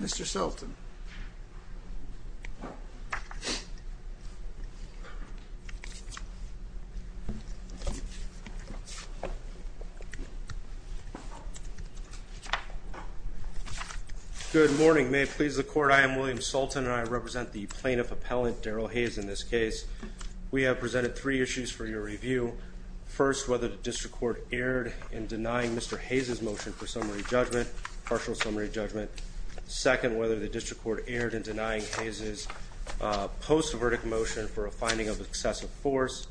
Mr. Sulton. Good morning. May it please the Court, I am William Sulton and I represent the plaintiff appellant Darrell Haze in this case. We have presented three issues for your review. First, whether the district court erred in denying Mr. Haze's motion for summary judgment, partial summary judgment. Second, whether the district court erred in denying Haze's post-verdict motion for a finding of excessive force.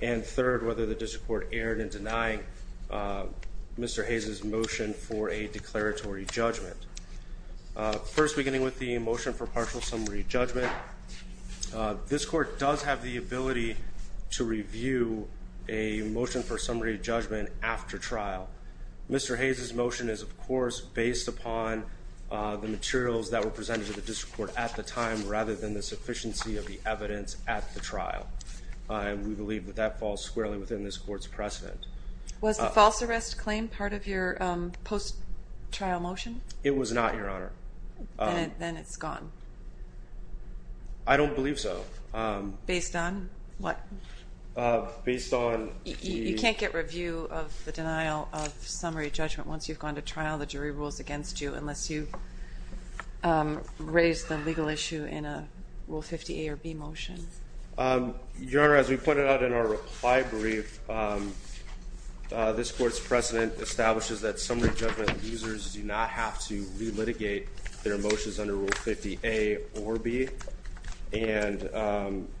And third, whether the district court erred in denying Mr. Haze's motion for a declaratory judgment. First, beginning with the motion for partial summary judgment, this court does have the Mr. Haze's motion is of course based upon the materials that were presented to the district court at the time rather than the sufficiency of the evidence at the trial. And we believe that that falls squarely within this court's precedent. Was the false arrest claim part of your post-trial motion? It was not, Your Honor. Then it's gone. I don't believe so. Based on what? Based on... You can't get review of the denial of summary judgment once you've gone to trial. The jury rules against you unless you raise the legal issue in a Rule 50A or B motion. Your Honor, as we pointed out in our reply brief, this court's precedent establishes that summary judgment users do not have to relitigate their motions under Rule 50A or B. And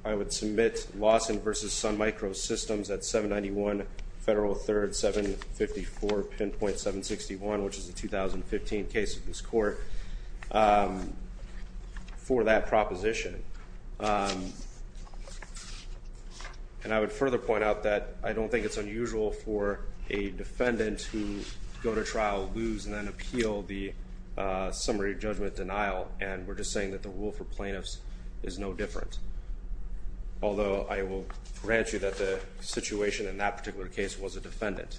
I would submit Lawson v. Sun Microsystems at 791 Federal 3rd 754 Pinpoint 761, which is a 2015 case of this court, for that proposition. And I would further point out that I don't think it's unusual for a defendant who go to trial lose and then appeal the summary judgment denial and we're just saying that the rule for plaintiffs is no different. Although I will grant you that the situation in that particular case was a defendant.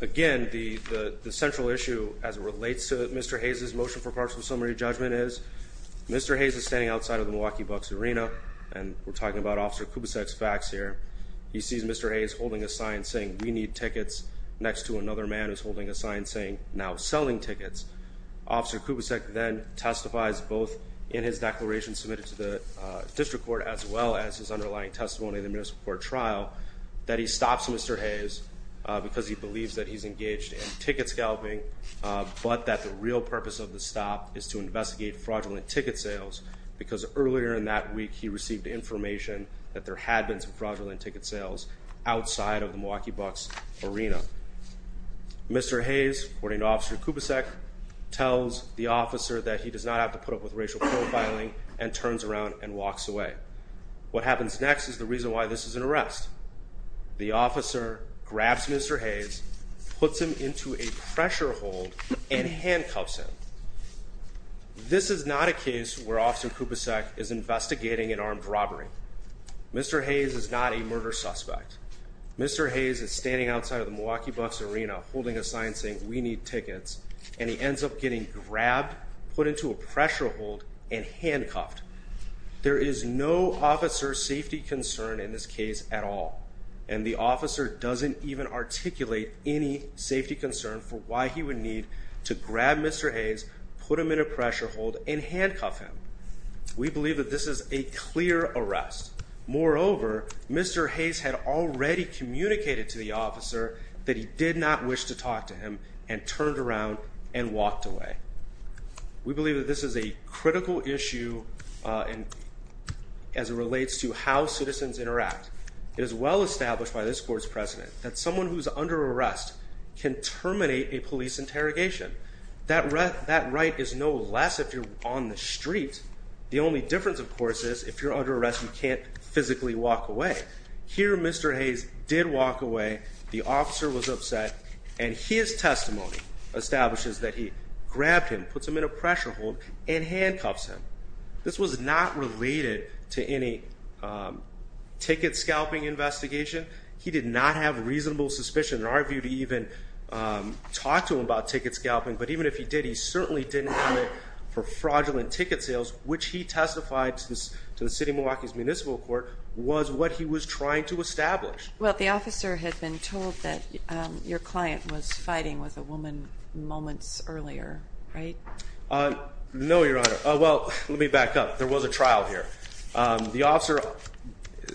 Again, the central issue as it relates to Mr. Hayes' motion for partial summary judgment is, Mr. Hayes is standing outside of the Milwaukee Bucks arena and we're talking about Officer Kubicek's facts here. He sees Mr. Hayes holding a sign saying, we need tickets, next to another man who's holding a sign saying, now selling tickets. Officer Kubicek then testifies both in his court as well as his underlying testimony in the municipal court trial that he stops Mr. Hayes because he believes that he's engaged in ticket scalping but that the real purpose of the stop is to investigate fraudulent ticket sales because earlier in that week he received information that there had been some fraudulent ticket sales outside of the Milwaukee Bucks arena. Mr. Hayes, according to Officer Kubicek, tells the officer that he does not have put up with racial profiling and turns around and walks away. What happens next is the reason why this is an arrest. The officer grabs Mr. Hayes, puts him into a pressure hold and handcuffs him. This is not a case where Officer Kubicek is investigating an armed robbery. Mr. Hayes is not a murder suspect. Mr. Hayes is standing outside of the Milwaukee Bucks arena holding a sign saying, we need you to put him in a pressure hold and handcuffed. There is no officer safety concern in this case at all and the officer doesn't even articulate any safety concern for why he would need to grab Mr. Hayes, put him in a pressure hold and handcuff him. We believe that this is a clear arrest. Moreover, Mr. Hayes had already communicated to the officer that he did not wish to talk to him and turned around and walked away. We believe that this is a critical issue as it relates to how citizens interact. It is well established by this court's precedent that someone who's under arrest can terminate a police interrogation. That right is no less if you're on the street. The only difference, of course, is if you're under arrest you can't physically walk away. Here Mr. Hayes did walk away. The officer was upset and his testimony establishes that he grabbed him, puts him in a pressure hold and handcuffs him. This was not related to any ticket scalping investigation. He did not have reasonable suspicion in our view to even talk to him about ticket scalping, but even if he did, he certainly didn't have it for fraudulent ticket sales, which he testified to the City of Milwaukee's Municipal Court was what he was trying to establish. Well, the officer had been told that your client was fighting with a woman moments earlier, right? No, Your Honor. Well, let me back up. There was a trial here. The officer,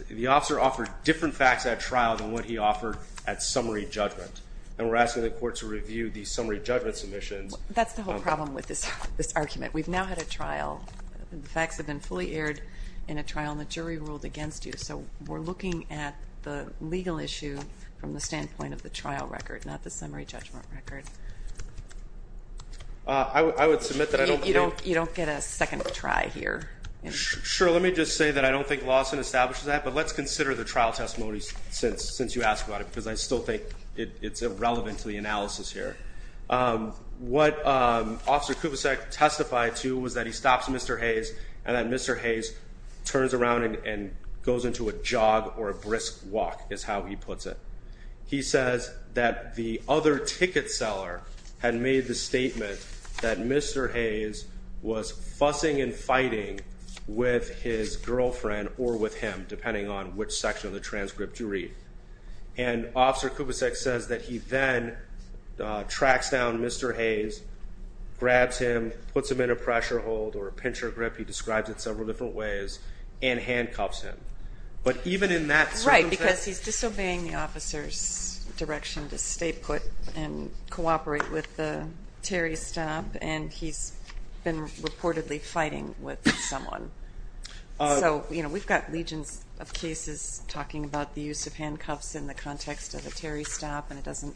the officer offered different facts at trial than what he offered at summary judgment. And we're asking the court to review the summary judgment submissions. That's the whole problem with this argument. We've now had a trial. The facts have been fully aired in a trial and the jury ruled against you. So we're looking at the legal issue from the standpoint of the trial record, not the summary judgment record. I would submit that you don't get a second try here. Sure. Let me just say that I don't think Lawson establishes that. But let's consider the trial testimony since since you asked about it, because I still think it's irrelevant to the analysis here. Um, what Officer Kubicek testified to was that he stops Mr Hayes and that Mr Hayes turns around and goes into a jog or a brisk walk is how he puts it. He says that the other ticket seller had made the statement that Mr Hayes was fussing and fighting with his girlfriend or with him, depending on which section of the transcript you read. And Officer Kubicek says that he then tracks down Mr Hayes, grabs him, puts him in a pressure hold or a pincher grip. He describes it several different ways and handcuffs him. But even in that... Right, because he's disobeying the officer's direction to stay put and cooperate with the Terry stop. And he's been reportedly fighting with someone. So, you know, we've got legions of cases talking about the use of handcuffs in the context of a Terry stop, and it doesn't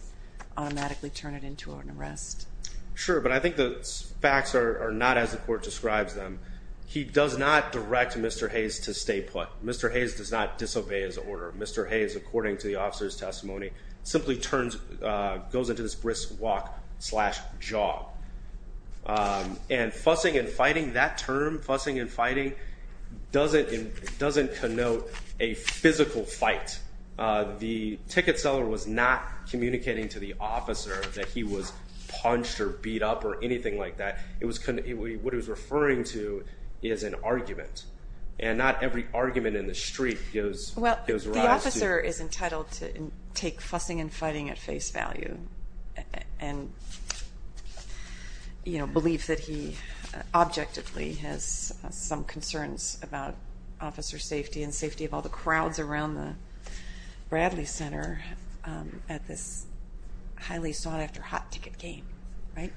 automatically turn it into an arrest. Sure. But I think the facts are not as the court describes them. He does not direct Mr Hayes to stay put. Mr Hayes does not disobey his order. Mr Hayes, according to the officer's testimony, simply turns, goes into this brisk walk slash jog. Um, and fussing and fighting that term, fussing and fighting doesn't doesn't connote a physical fight. Uh, the ticket seller was not communicating to the officer that he was punched or beat up or anything like that. It was... What he was referring to is an argument, and not every argument in the street goes... Well, the officer is entitled to take fussing and fighting at face value and, you know, believe that he objectively has some concerns about officer safety and safety of all the crowds around the Bradley Center at this highly sought after hot ticket game, right?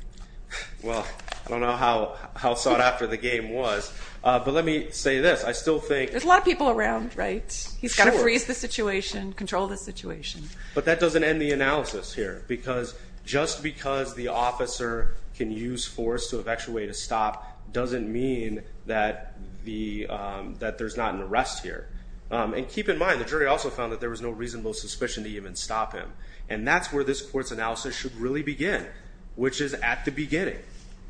Well, I don't know how sought after the game was, but let me say this. I still think... There's a lot of people around, right? He's gotta freeze the situation, control the situation. But that doesn't end the analysis here, because just because the officer can use force to evacuate a stop doesn't mean that there's not an arrest here. And keep in mind, the jury also found that there was no reasonable suspicion to even stop him. And that's where this court's analysis should really begin, which is at the beginning,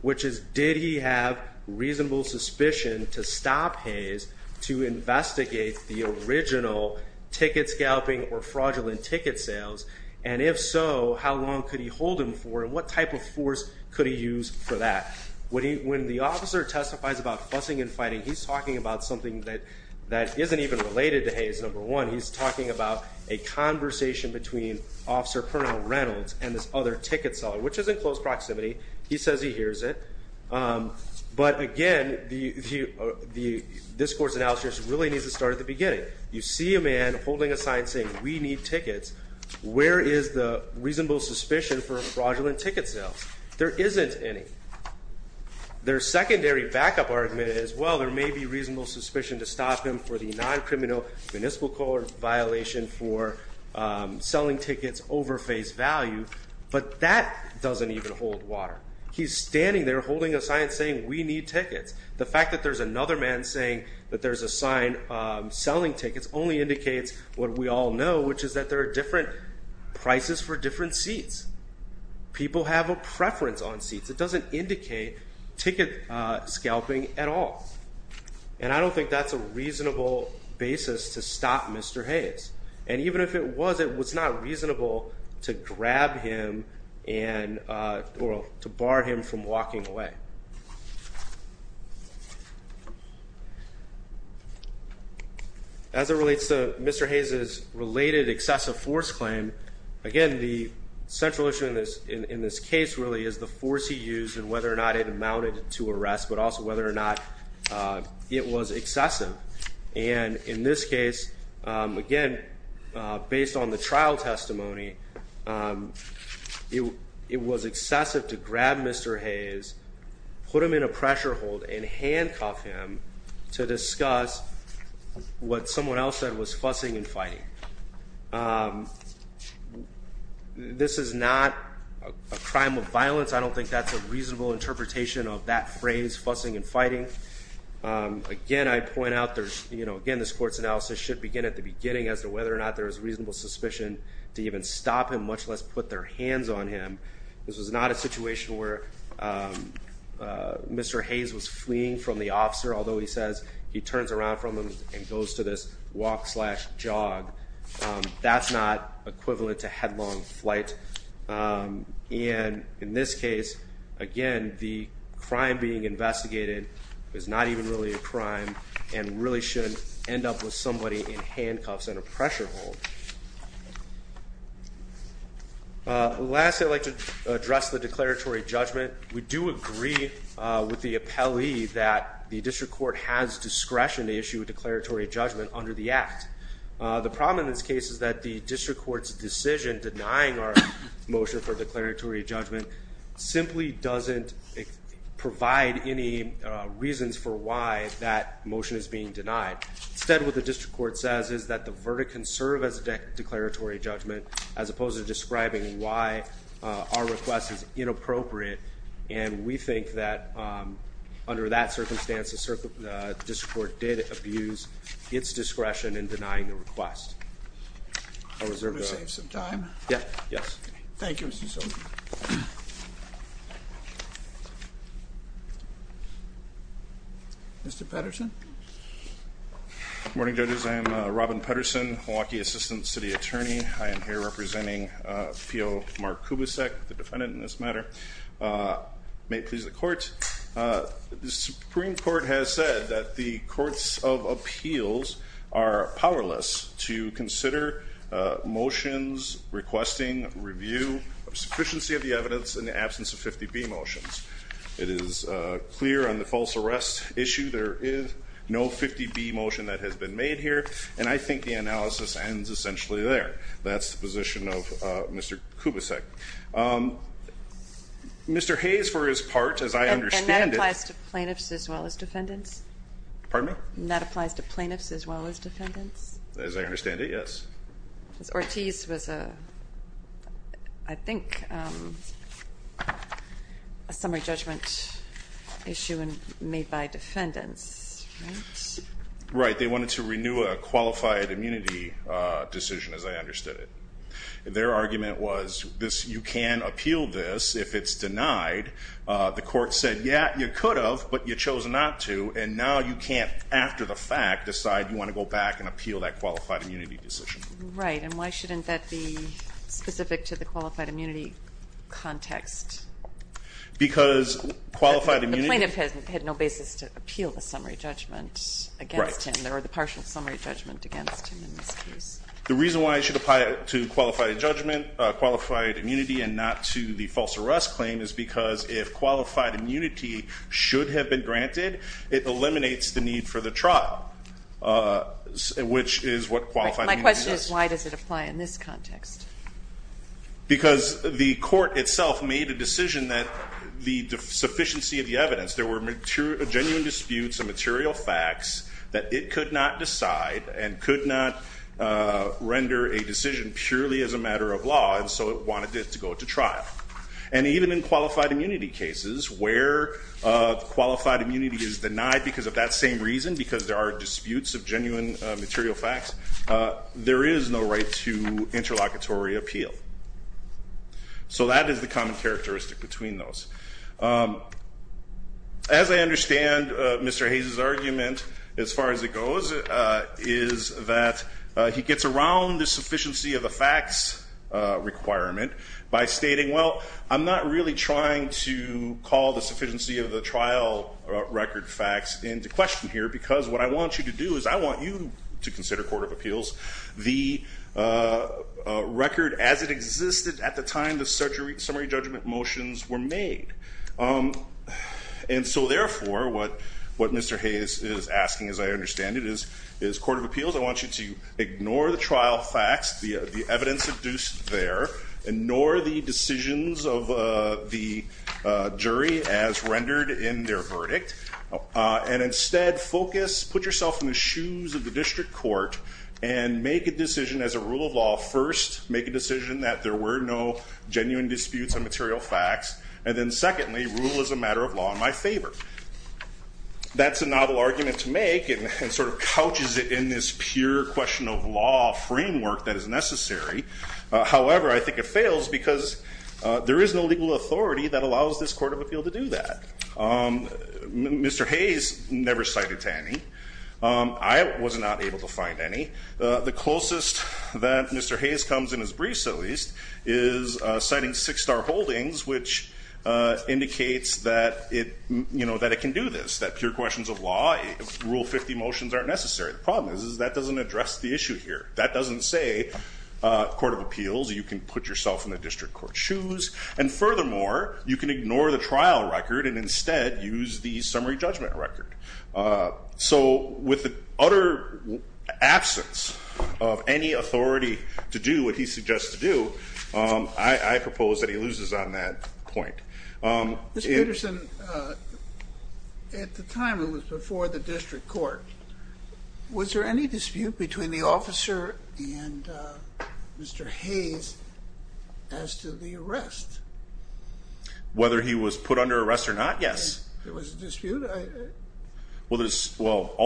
which is, did he have reasonable suspicion to stop Hayes to investigate the original ticket scalping or fraudulent ticket sales? And if so, how long could he hold him for? And what type of force could he use for that? When the officer testifies about fussing and fighting, he's talking about something that isn't even related to Hayes, number one. He's talking about a conversation between Officer Colonel Reynolds and this other ticket seller, which is in close proximity. He says he hears it. But again, this court's analysis really needs to start at the beginning. You see a man holding a sign saying, we need tickets. Where is the reasonable suspicion for fraudulent ticket sales? There isn't any. Their secondary backup argument is, well, there may be a non-criminal municipal court violation for selling tickets over face value, but that doesn't even hold water. He's standing there holding a sign saying, we need tickets. The fact that there's another man saying that there's a sign selling tickets only indicates what we all know, which is that there are different prices for different seats. People have a preference on seats. It doesn't indicate ticket scalping at all. And I don't think that's a reasonable basis to stop Mr. Hayes. And even if it was, it was not reasonable to grab him and... Or to bar him from walking away. As it relates to Mr. Hayes' related excessive force claim, again, the central issue in this case really is the force he used and whether or not it amounted to arrest, but also whether or not it was excessive. And in this case, again, based on the trial testimony, it was excessive to grab Mr. Hayes, put him in a pressure hold, and handcuff him to discuss what someone else said was fussing and fighting. This is not a crime of violence. I don't think that's a reasonable interpretation of that phrase, fussing and fighting. Again, I point out there's... Again, this court's analysis should begin at the beginning as to whether or not there is reasonable suspicion to even stop him, much less put their hands on him. This was not a situation where Mr. Hayes was fleeing from the officer, although he says he turns around from him and goes to this walk slash jog. That's not equivalent to headlong flight. And in this case, again, the crime being investigated is not even really a crime and really shouldn't end up with somebody in handcuffs and a pressure hold. Lastly, I'd like to address the declaratory judgment. We do agree with the appellee that the district court has discretion to issue a declaratory judgment under the act. The problem in this case is that the district court's decision denying our motion for declaratory judgment simply doesn't provide any reasons for why that motion is being denied. Instead, what the district court says is that the verdict can serve as a declaratory judgment as opposed to describing why our request is inappropriate. And we think that under that circumstance, the district court did abuse its discretion in denying the request. I'll reserve some time. Yeah. Yes. Thank you. Mr. Patterson. Morning, judges. I'm Robin Patterson, Milwaukee Assistant City Attorney. I am here representing feel Mark Kubicek, the defendant in this matter. May it please the court. The Supreme Court has said that the courts of the district court has asked us to consider motions requesting review of sufficiency of the evidence in the absence of 50 B motions. It is clear on the false arrest issue. There is no 50 B motion that has been made here, and I think the analysis ends essentially there. That's the position of Mr Kubicek. Mr Hayes, for his part, as I understand it applies to plaintiffs as well as I understand it. Yes. Ortiz was, I think, a summary judgment issue made by defendants, right? Right. They wanted to renew a qualified immunity decision, as I understood it. Their argument was this. You can appeal this if it's denied. The court said, Yeah, you could have, but you chose not to. And now you can't, after the fact, decide you want to go back and appeal that qualified immunity decision. Right. And why shouldn't that be specific to the qualified immunity context? Because qualified immunity... The plaintiff had no basis to appeal the summary judgment against him. There were the partial summary judgment against him in this case. The reason why it should apply to qualified judgment, qualified immunity and not to the false arrest claim is because if qualified immunity should have been granted, it eliminates the need for the trial, which is what qualified immunity does. My question is, why does it apply in this context? Because the court itself made a decision that the sufficiency of the evidence, there were genuine disputes and material facts that it could not decide and could not render a decision purely as a matter of law, and so it wanted it to go to trial. And even in qualified immunity cases where qualified immunity is denied because of that same reason, because there are disputes of genuine material facts, there is no right to interlocutory appeal. So that is the common characteristic between those. As I understand Mr. Hayes' argument, as far as it goes, is that he gets around the sufficiency of the facts requirement by stating, well, I'm not really trying to call the sufficiency of the trial record facts into question here, because what I want you to do is I want you to consider Court of Appeals, the record as it existed at the time the summary judgment motions were made. And so therefore, what Mr. Hayes is asking, as I understand it, is Court of Appeals, I want you to ignore the trial facts, the evidence deduced there, ignore the decisions of the jury as rendered in their verdict, and instead focus, put yourself in the shoes of the district court, and make a decision as a rule of law. First, make a decision that there were no genuine disputes and material facts, and then secondly, rule as a matter of law in my favor. That's a novel argument to make and sort of couches it in this pure question of law framework that is necessary. However, I think it fails because there is no legal authority that allows this Court of Appeal to do that. Mr. Hayes never cited any. I was not able to find any. The closest that Mr. Hayes comes in his briefs, at least, is citing six star holdings, which indicates that it can do this, that pure questions of law, rule 50 motions aren't necessary. The problem is that doesn't address the issue here. That doesn't say, Court of Appeals, you can put yourself in the district court's shoes, and furthermore, you can ignore the trial record and instead use the summary judgment record. So with the utter absence of any authority to do what he suggests to do, I propose that he loses on that point. Mr. Peterson, at the time it was before the district court, was there any dispute between the officer and Mr. Hayes as to the arrest? Whether he was put under arrest or not, yes. There was a dispute? Well,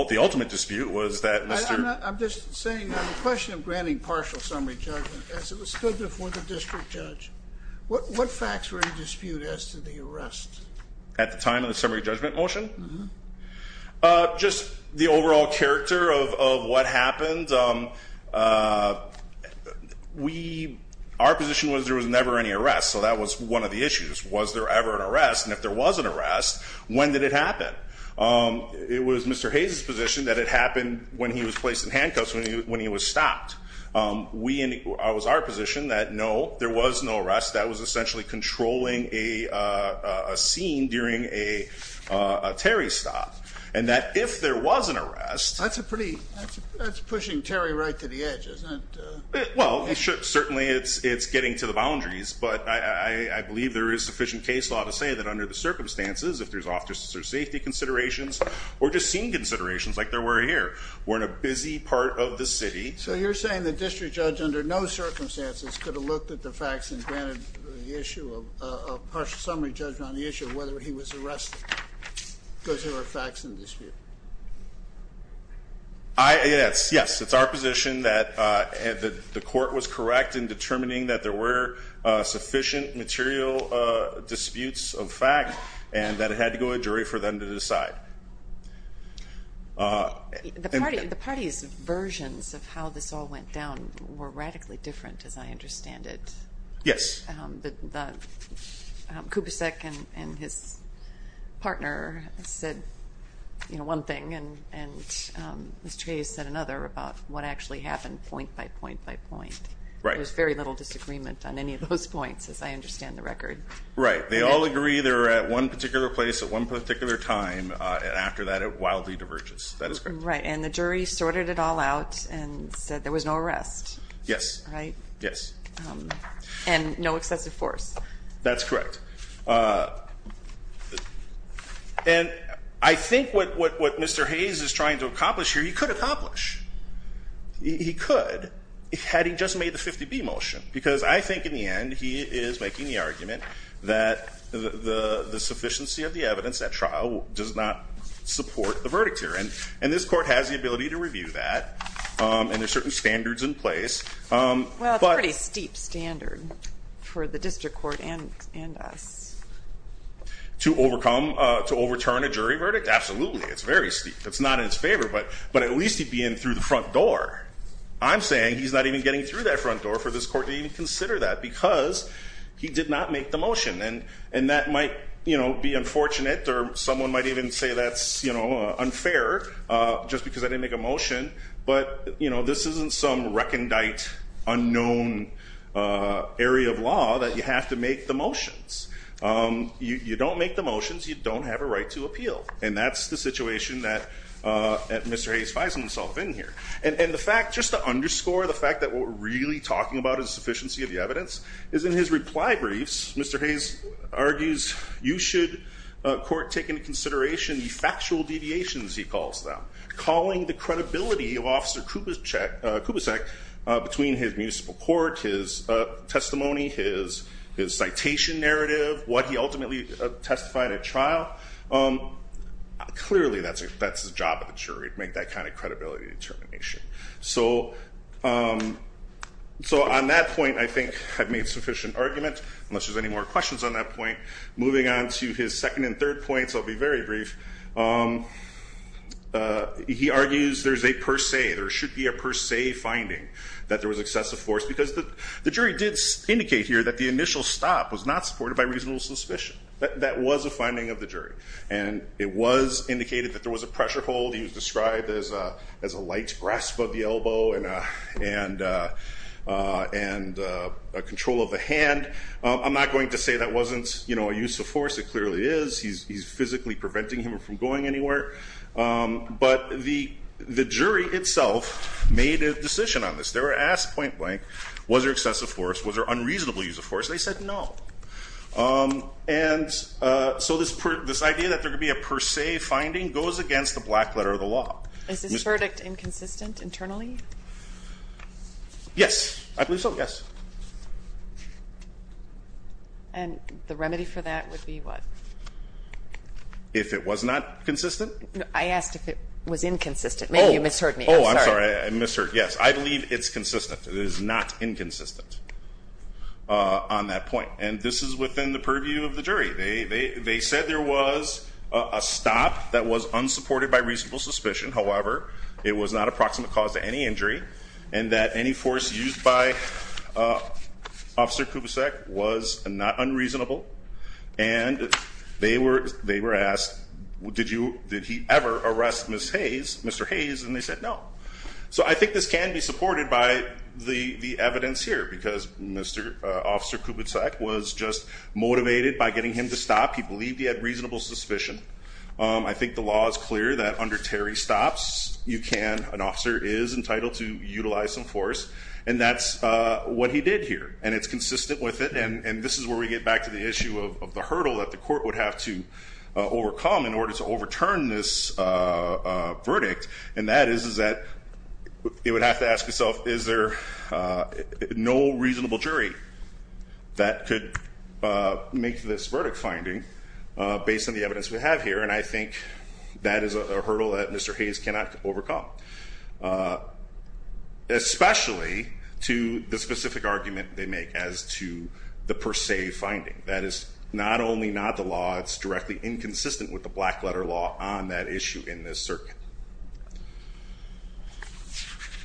the ultimate dispute was that Mr. I'm just saying on the question of granting partial summary judgment as it was stood before the district judge. What facts were in dispute as to the arrest? At the time of the summary judgment motion? Mm-hm. Just the overall character of what happened. We, our position was there was never any arrest, so that was one of the issues. Was there ever an arrest, and if there was an arrest, when did it happen? It was Mr. Hayes' position that it happened when he was placed in handcuffs, when he was stopped. We, it was our position that no, there was no arrest. That was essentially controlling a scene during a Terry stop. And that if there was an arrest. That's a pretty, that's pushing Terry right to the edge, isn't it? Well, it should, certainly it's getting to the boundaries. But I believe there is sufficient case law to say that under the circumstances, if there's officer safety considerations, or just scene considerations like there were here, we're in a busy part of the city. So you're saying the district judge under no circumstances could have looked at the facts and granted the issue of a partial summary judgment on the issue of whether he was arrested because there were facts in dispute. I, yes, yes. It's our position that the court was correct in determining that there were sufficient material disputes of fact, and that it had to go to a jury for them to decide. The party's versions of how this all went down were radically different, as I understand it. Yes. The, Kubicek and his partner said, you know, one thing. And, and Mr. Hayes said another about what actually happened point by point by point. Right. There's very little disagreement on any of those points, as I understand the record. Right. They all agree they're at one particular place at one particular time. And after that, it wildly diverges. That is correct. Right. And the jury sorted it all out and said there was no arrest. Yes. Right? Yes. And no excessive force. That's correct. And I think what Mr. Hayes is trying to accomplish here, he could accomplish. He could, had he just made the 50B motion. Does not support the verdict here. And this court has the ability to review that. And there's certain standards in place. Well, it's a pretty steep standard for the district court and us. To overcome, to overturn a jury verdict? Absolutely. It's very steep. It's not in his favor, but at least he'd be in through the front door. I'm saying he's not even getting through that front door for this court to even consider that because he did not make the motion. And that might be unfortunate or someone might even say that's unfair just because I didn't make a motion. But this isn't some recondite unknown area of law that you have to make the motions. You don't make the motions, you don't have a right to appeal. And that's the situation that Mr. Hayes finds himself in here. And the fact, just to underscore the fact that what we're really talking about is sufficiency of the evidence. Is in his reply briefs, Mr. Hayes argues you should court take into consideration the factual deviations, he calls them. Calling the credibility of Officer Kubicek between his municipal court, his testimony, his citation narrative, what he ultimately testified at trial. Clearly, that's the job of the jury, to make that kind of credibility determination. So on that point, I think I've made sufficient argument, unless there's any more questions on that point. Moving on to his second and third points, I'll be very brief. He argues there's a per se, there should be a per se finding that there was excessive force. Because the jury did indicate here that the initial stop was not supported by reasonable suspicion. That was a finding of the jury. And it was indicated that there was a pressure hold. He was described as a light grasp of the elbow and a control of the hand. I'm not going to say that wasn't a use of force. It clearly is. He's physically preventing him from going anywhere. But the jury itself made a decision on this. They were asked point blank, was there excessive force? Was there unreasonable use of force? They said no. And so this idea that there could be a per se finding goes against the black letter of the law. Is this verdict inconsistent internally? Yes, I believe so, yes. And the remedy for that would be what? If it was not consistent? I asked if it was inconsistent. Maybe you misheard me, I'm sorry. I'm sorry, I misheard, yes. I believe it's consistent. It is not inconsistent on that point. And this is within the purview of the jury. They said there was a stop that was unsupported by reasonable suspicion. However, it was not a proximate cause to any injury. And that any force used by Officer Kubicek was not unreasonable. And they were asked, did he ever arrest Mr. Hayes? And they said no. So I think this can be supported by the evidence here. Because Mr. Officer Kubicek was just motivated by getting him to stop. He believed he had reasonable suspicion. I think the law is clear that under Terry Stops, you can, an officer is entitled to utilize some force. And that's what he did here. And it's consistent with it. And this is where we get back to the issue of the hurdle that the court would have to overcome in order to overturn this verdict. And that is that it would have to ask itself, is there no reasonable jury that could make this verdict finding based on the evidence we have here? And I think that is a hurdle that Mr. Hayes cannot overcome. Especially to the specific argument they make as to the per se finding. That is not only not the law, it's directly inconsistent with the black letter law on that issue in this circuit.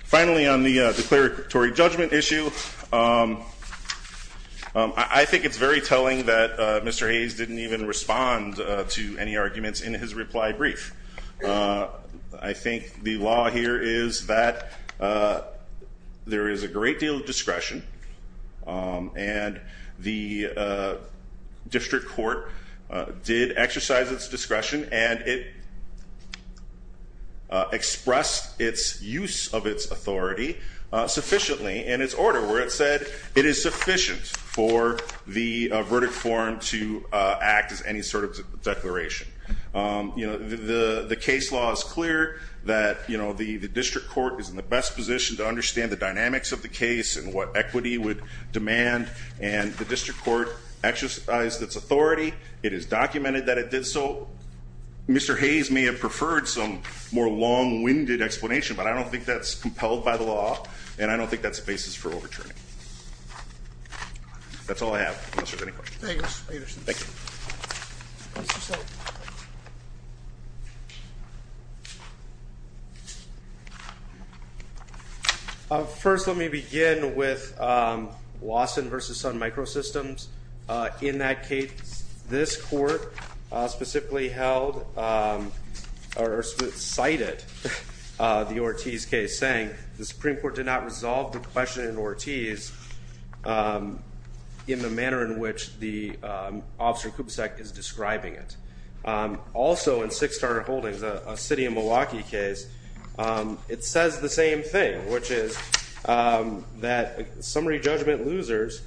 Finally, on the declaratory judgment issue, I think it's very telling that Mr. Hayes didn't even respond to any arguments in his reply brief. I think the law here is that there is a great deal of discretion. And the district court did exercise its discretion. And it expressed its use of its authority sufficiently in its order. Where it said it is sufficient for the verdict form to act as any sort of declaration. The case law is clear that the district court is in the best position to understand the dynamics of the case and what equity would demand and the district court exercised its authority. It is documented that it did so. Mr. Hayes may have preferred some more long winded explanation, but I don't think that's compelled by the law. And I don't think that's the basis for overturning. That's all I have, unless there's any questions. Thank you, Mr. Peterson. Thank you. First, let me begin with Lawson versus Sun Microsystems. In that case, this court specifically held or cited the Ortiz case, saying the Supreme Court did not resolve the question in Ortiz in the manner in which the Officer Kubsek is describing it. Also in Six Star Holdings, a city of Milwaukee case, it says the same thing. Which is that summary judgment losers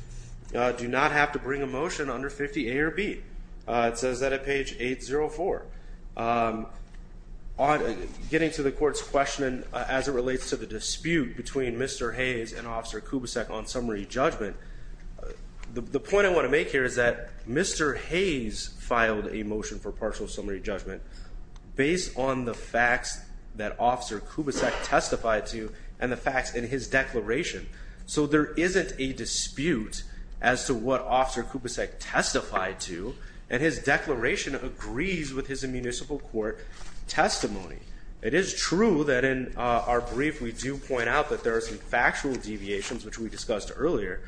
do not have to bring a motion under 50 A or B. It says that at page 804. On getting to the court's question as it relates to the dispute between Mr. Hayes and Officer Kubsek on summary judgment, the point I want to make here is that Mr. Hayes filed a motion for partial summary judgment based on the facts that Officer Kubsek testified to and the facts in his declaration. So there isn't a dispute as to what Officer Kubsek testified to and his declaration agrees with his municipal court testimony. It is true that in our brief we do point out that there are some factual deviations, which we discussed earlier,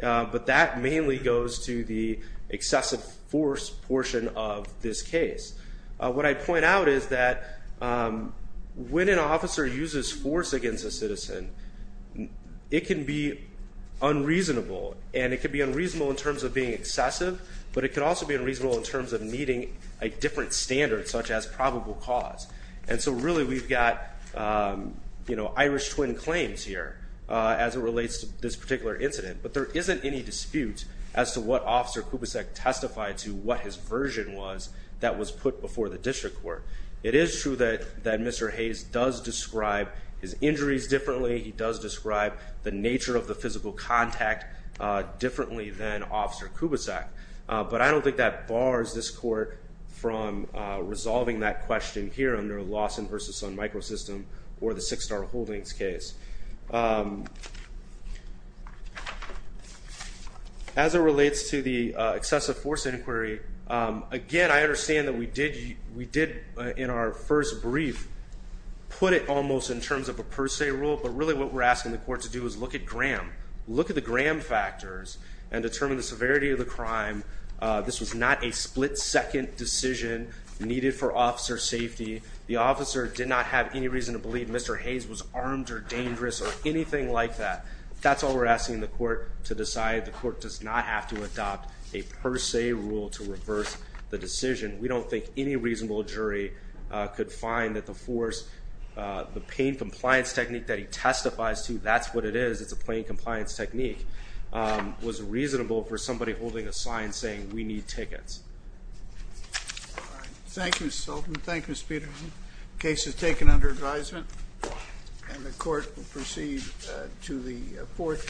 but that mainly goes to the excessive force portion of this case. What I point out is that when an officer uses force against a citizen, it can be unreasonable. And it can be unreasonable in terms of being excessive, but it can also be unreasonable in terms of needing a different standard such as probable cause. And so really we've got Irish twin claims here as it relates to this particular incident. But there isn't any dispute as to what Officer Kubsek testified to, what his version was, that was put before the district court. It is true that Mr. Hayes does describe his injuries differently. He does describe the nature of the physical contact differently than Officer Kubsek. But I don't think that bars this court from resolving that question here under Lawson versus Sun Microsystem or the Six Star Holdings case. As it relates to the excessive force inquiry, again, I understand that we did in our first brief put it almost in terms of a per se rule. But really what we're asking the court to do is look at Graham. Look at the Graham factors and determine the severity of the crime. This was not a split second decision needed for officer safety. The officer did not have any reason to believe Mr. Hayes was armed or dangerous or anything like that. That's all we're asking the court to decide. The court does not have to adopt a per se rule to reverse the decision. We don't think any reasonable jury could find that the force, the pain compliance technique that he testifies to, that's what it is. It's a plain compliance technique, was reasonable for somebody holding a sign saying we need tickets. All right, thank you, Mr. Sultan. Thank you, Mr. Peterson. Case is taken under advisement, and the court will proceed to the fourth.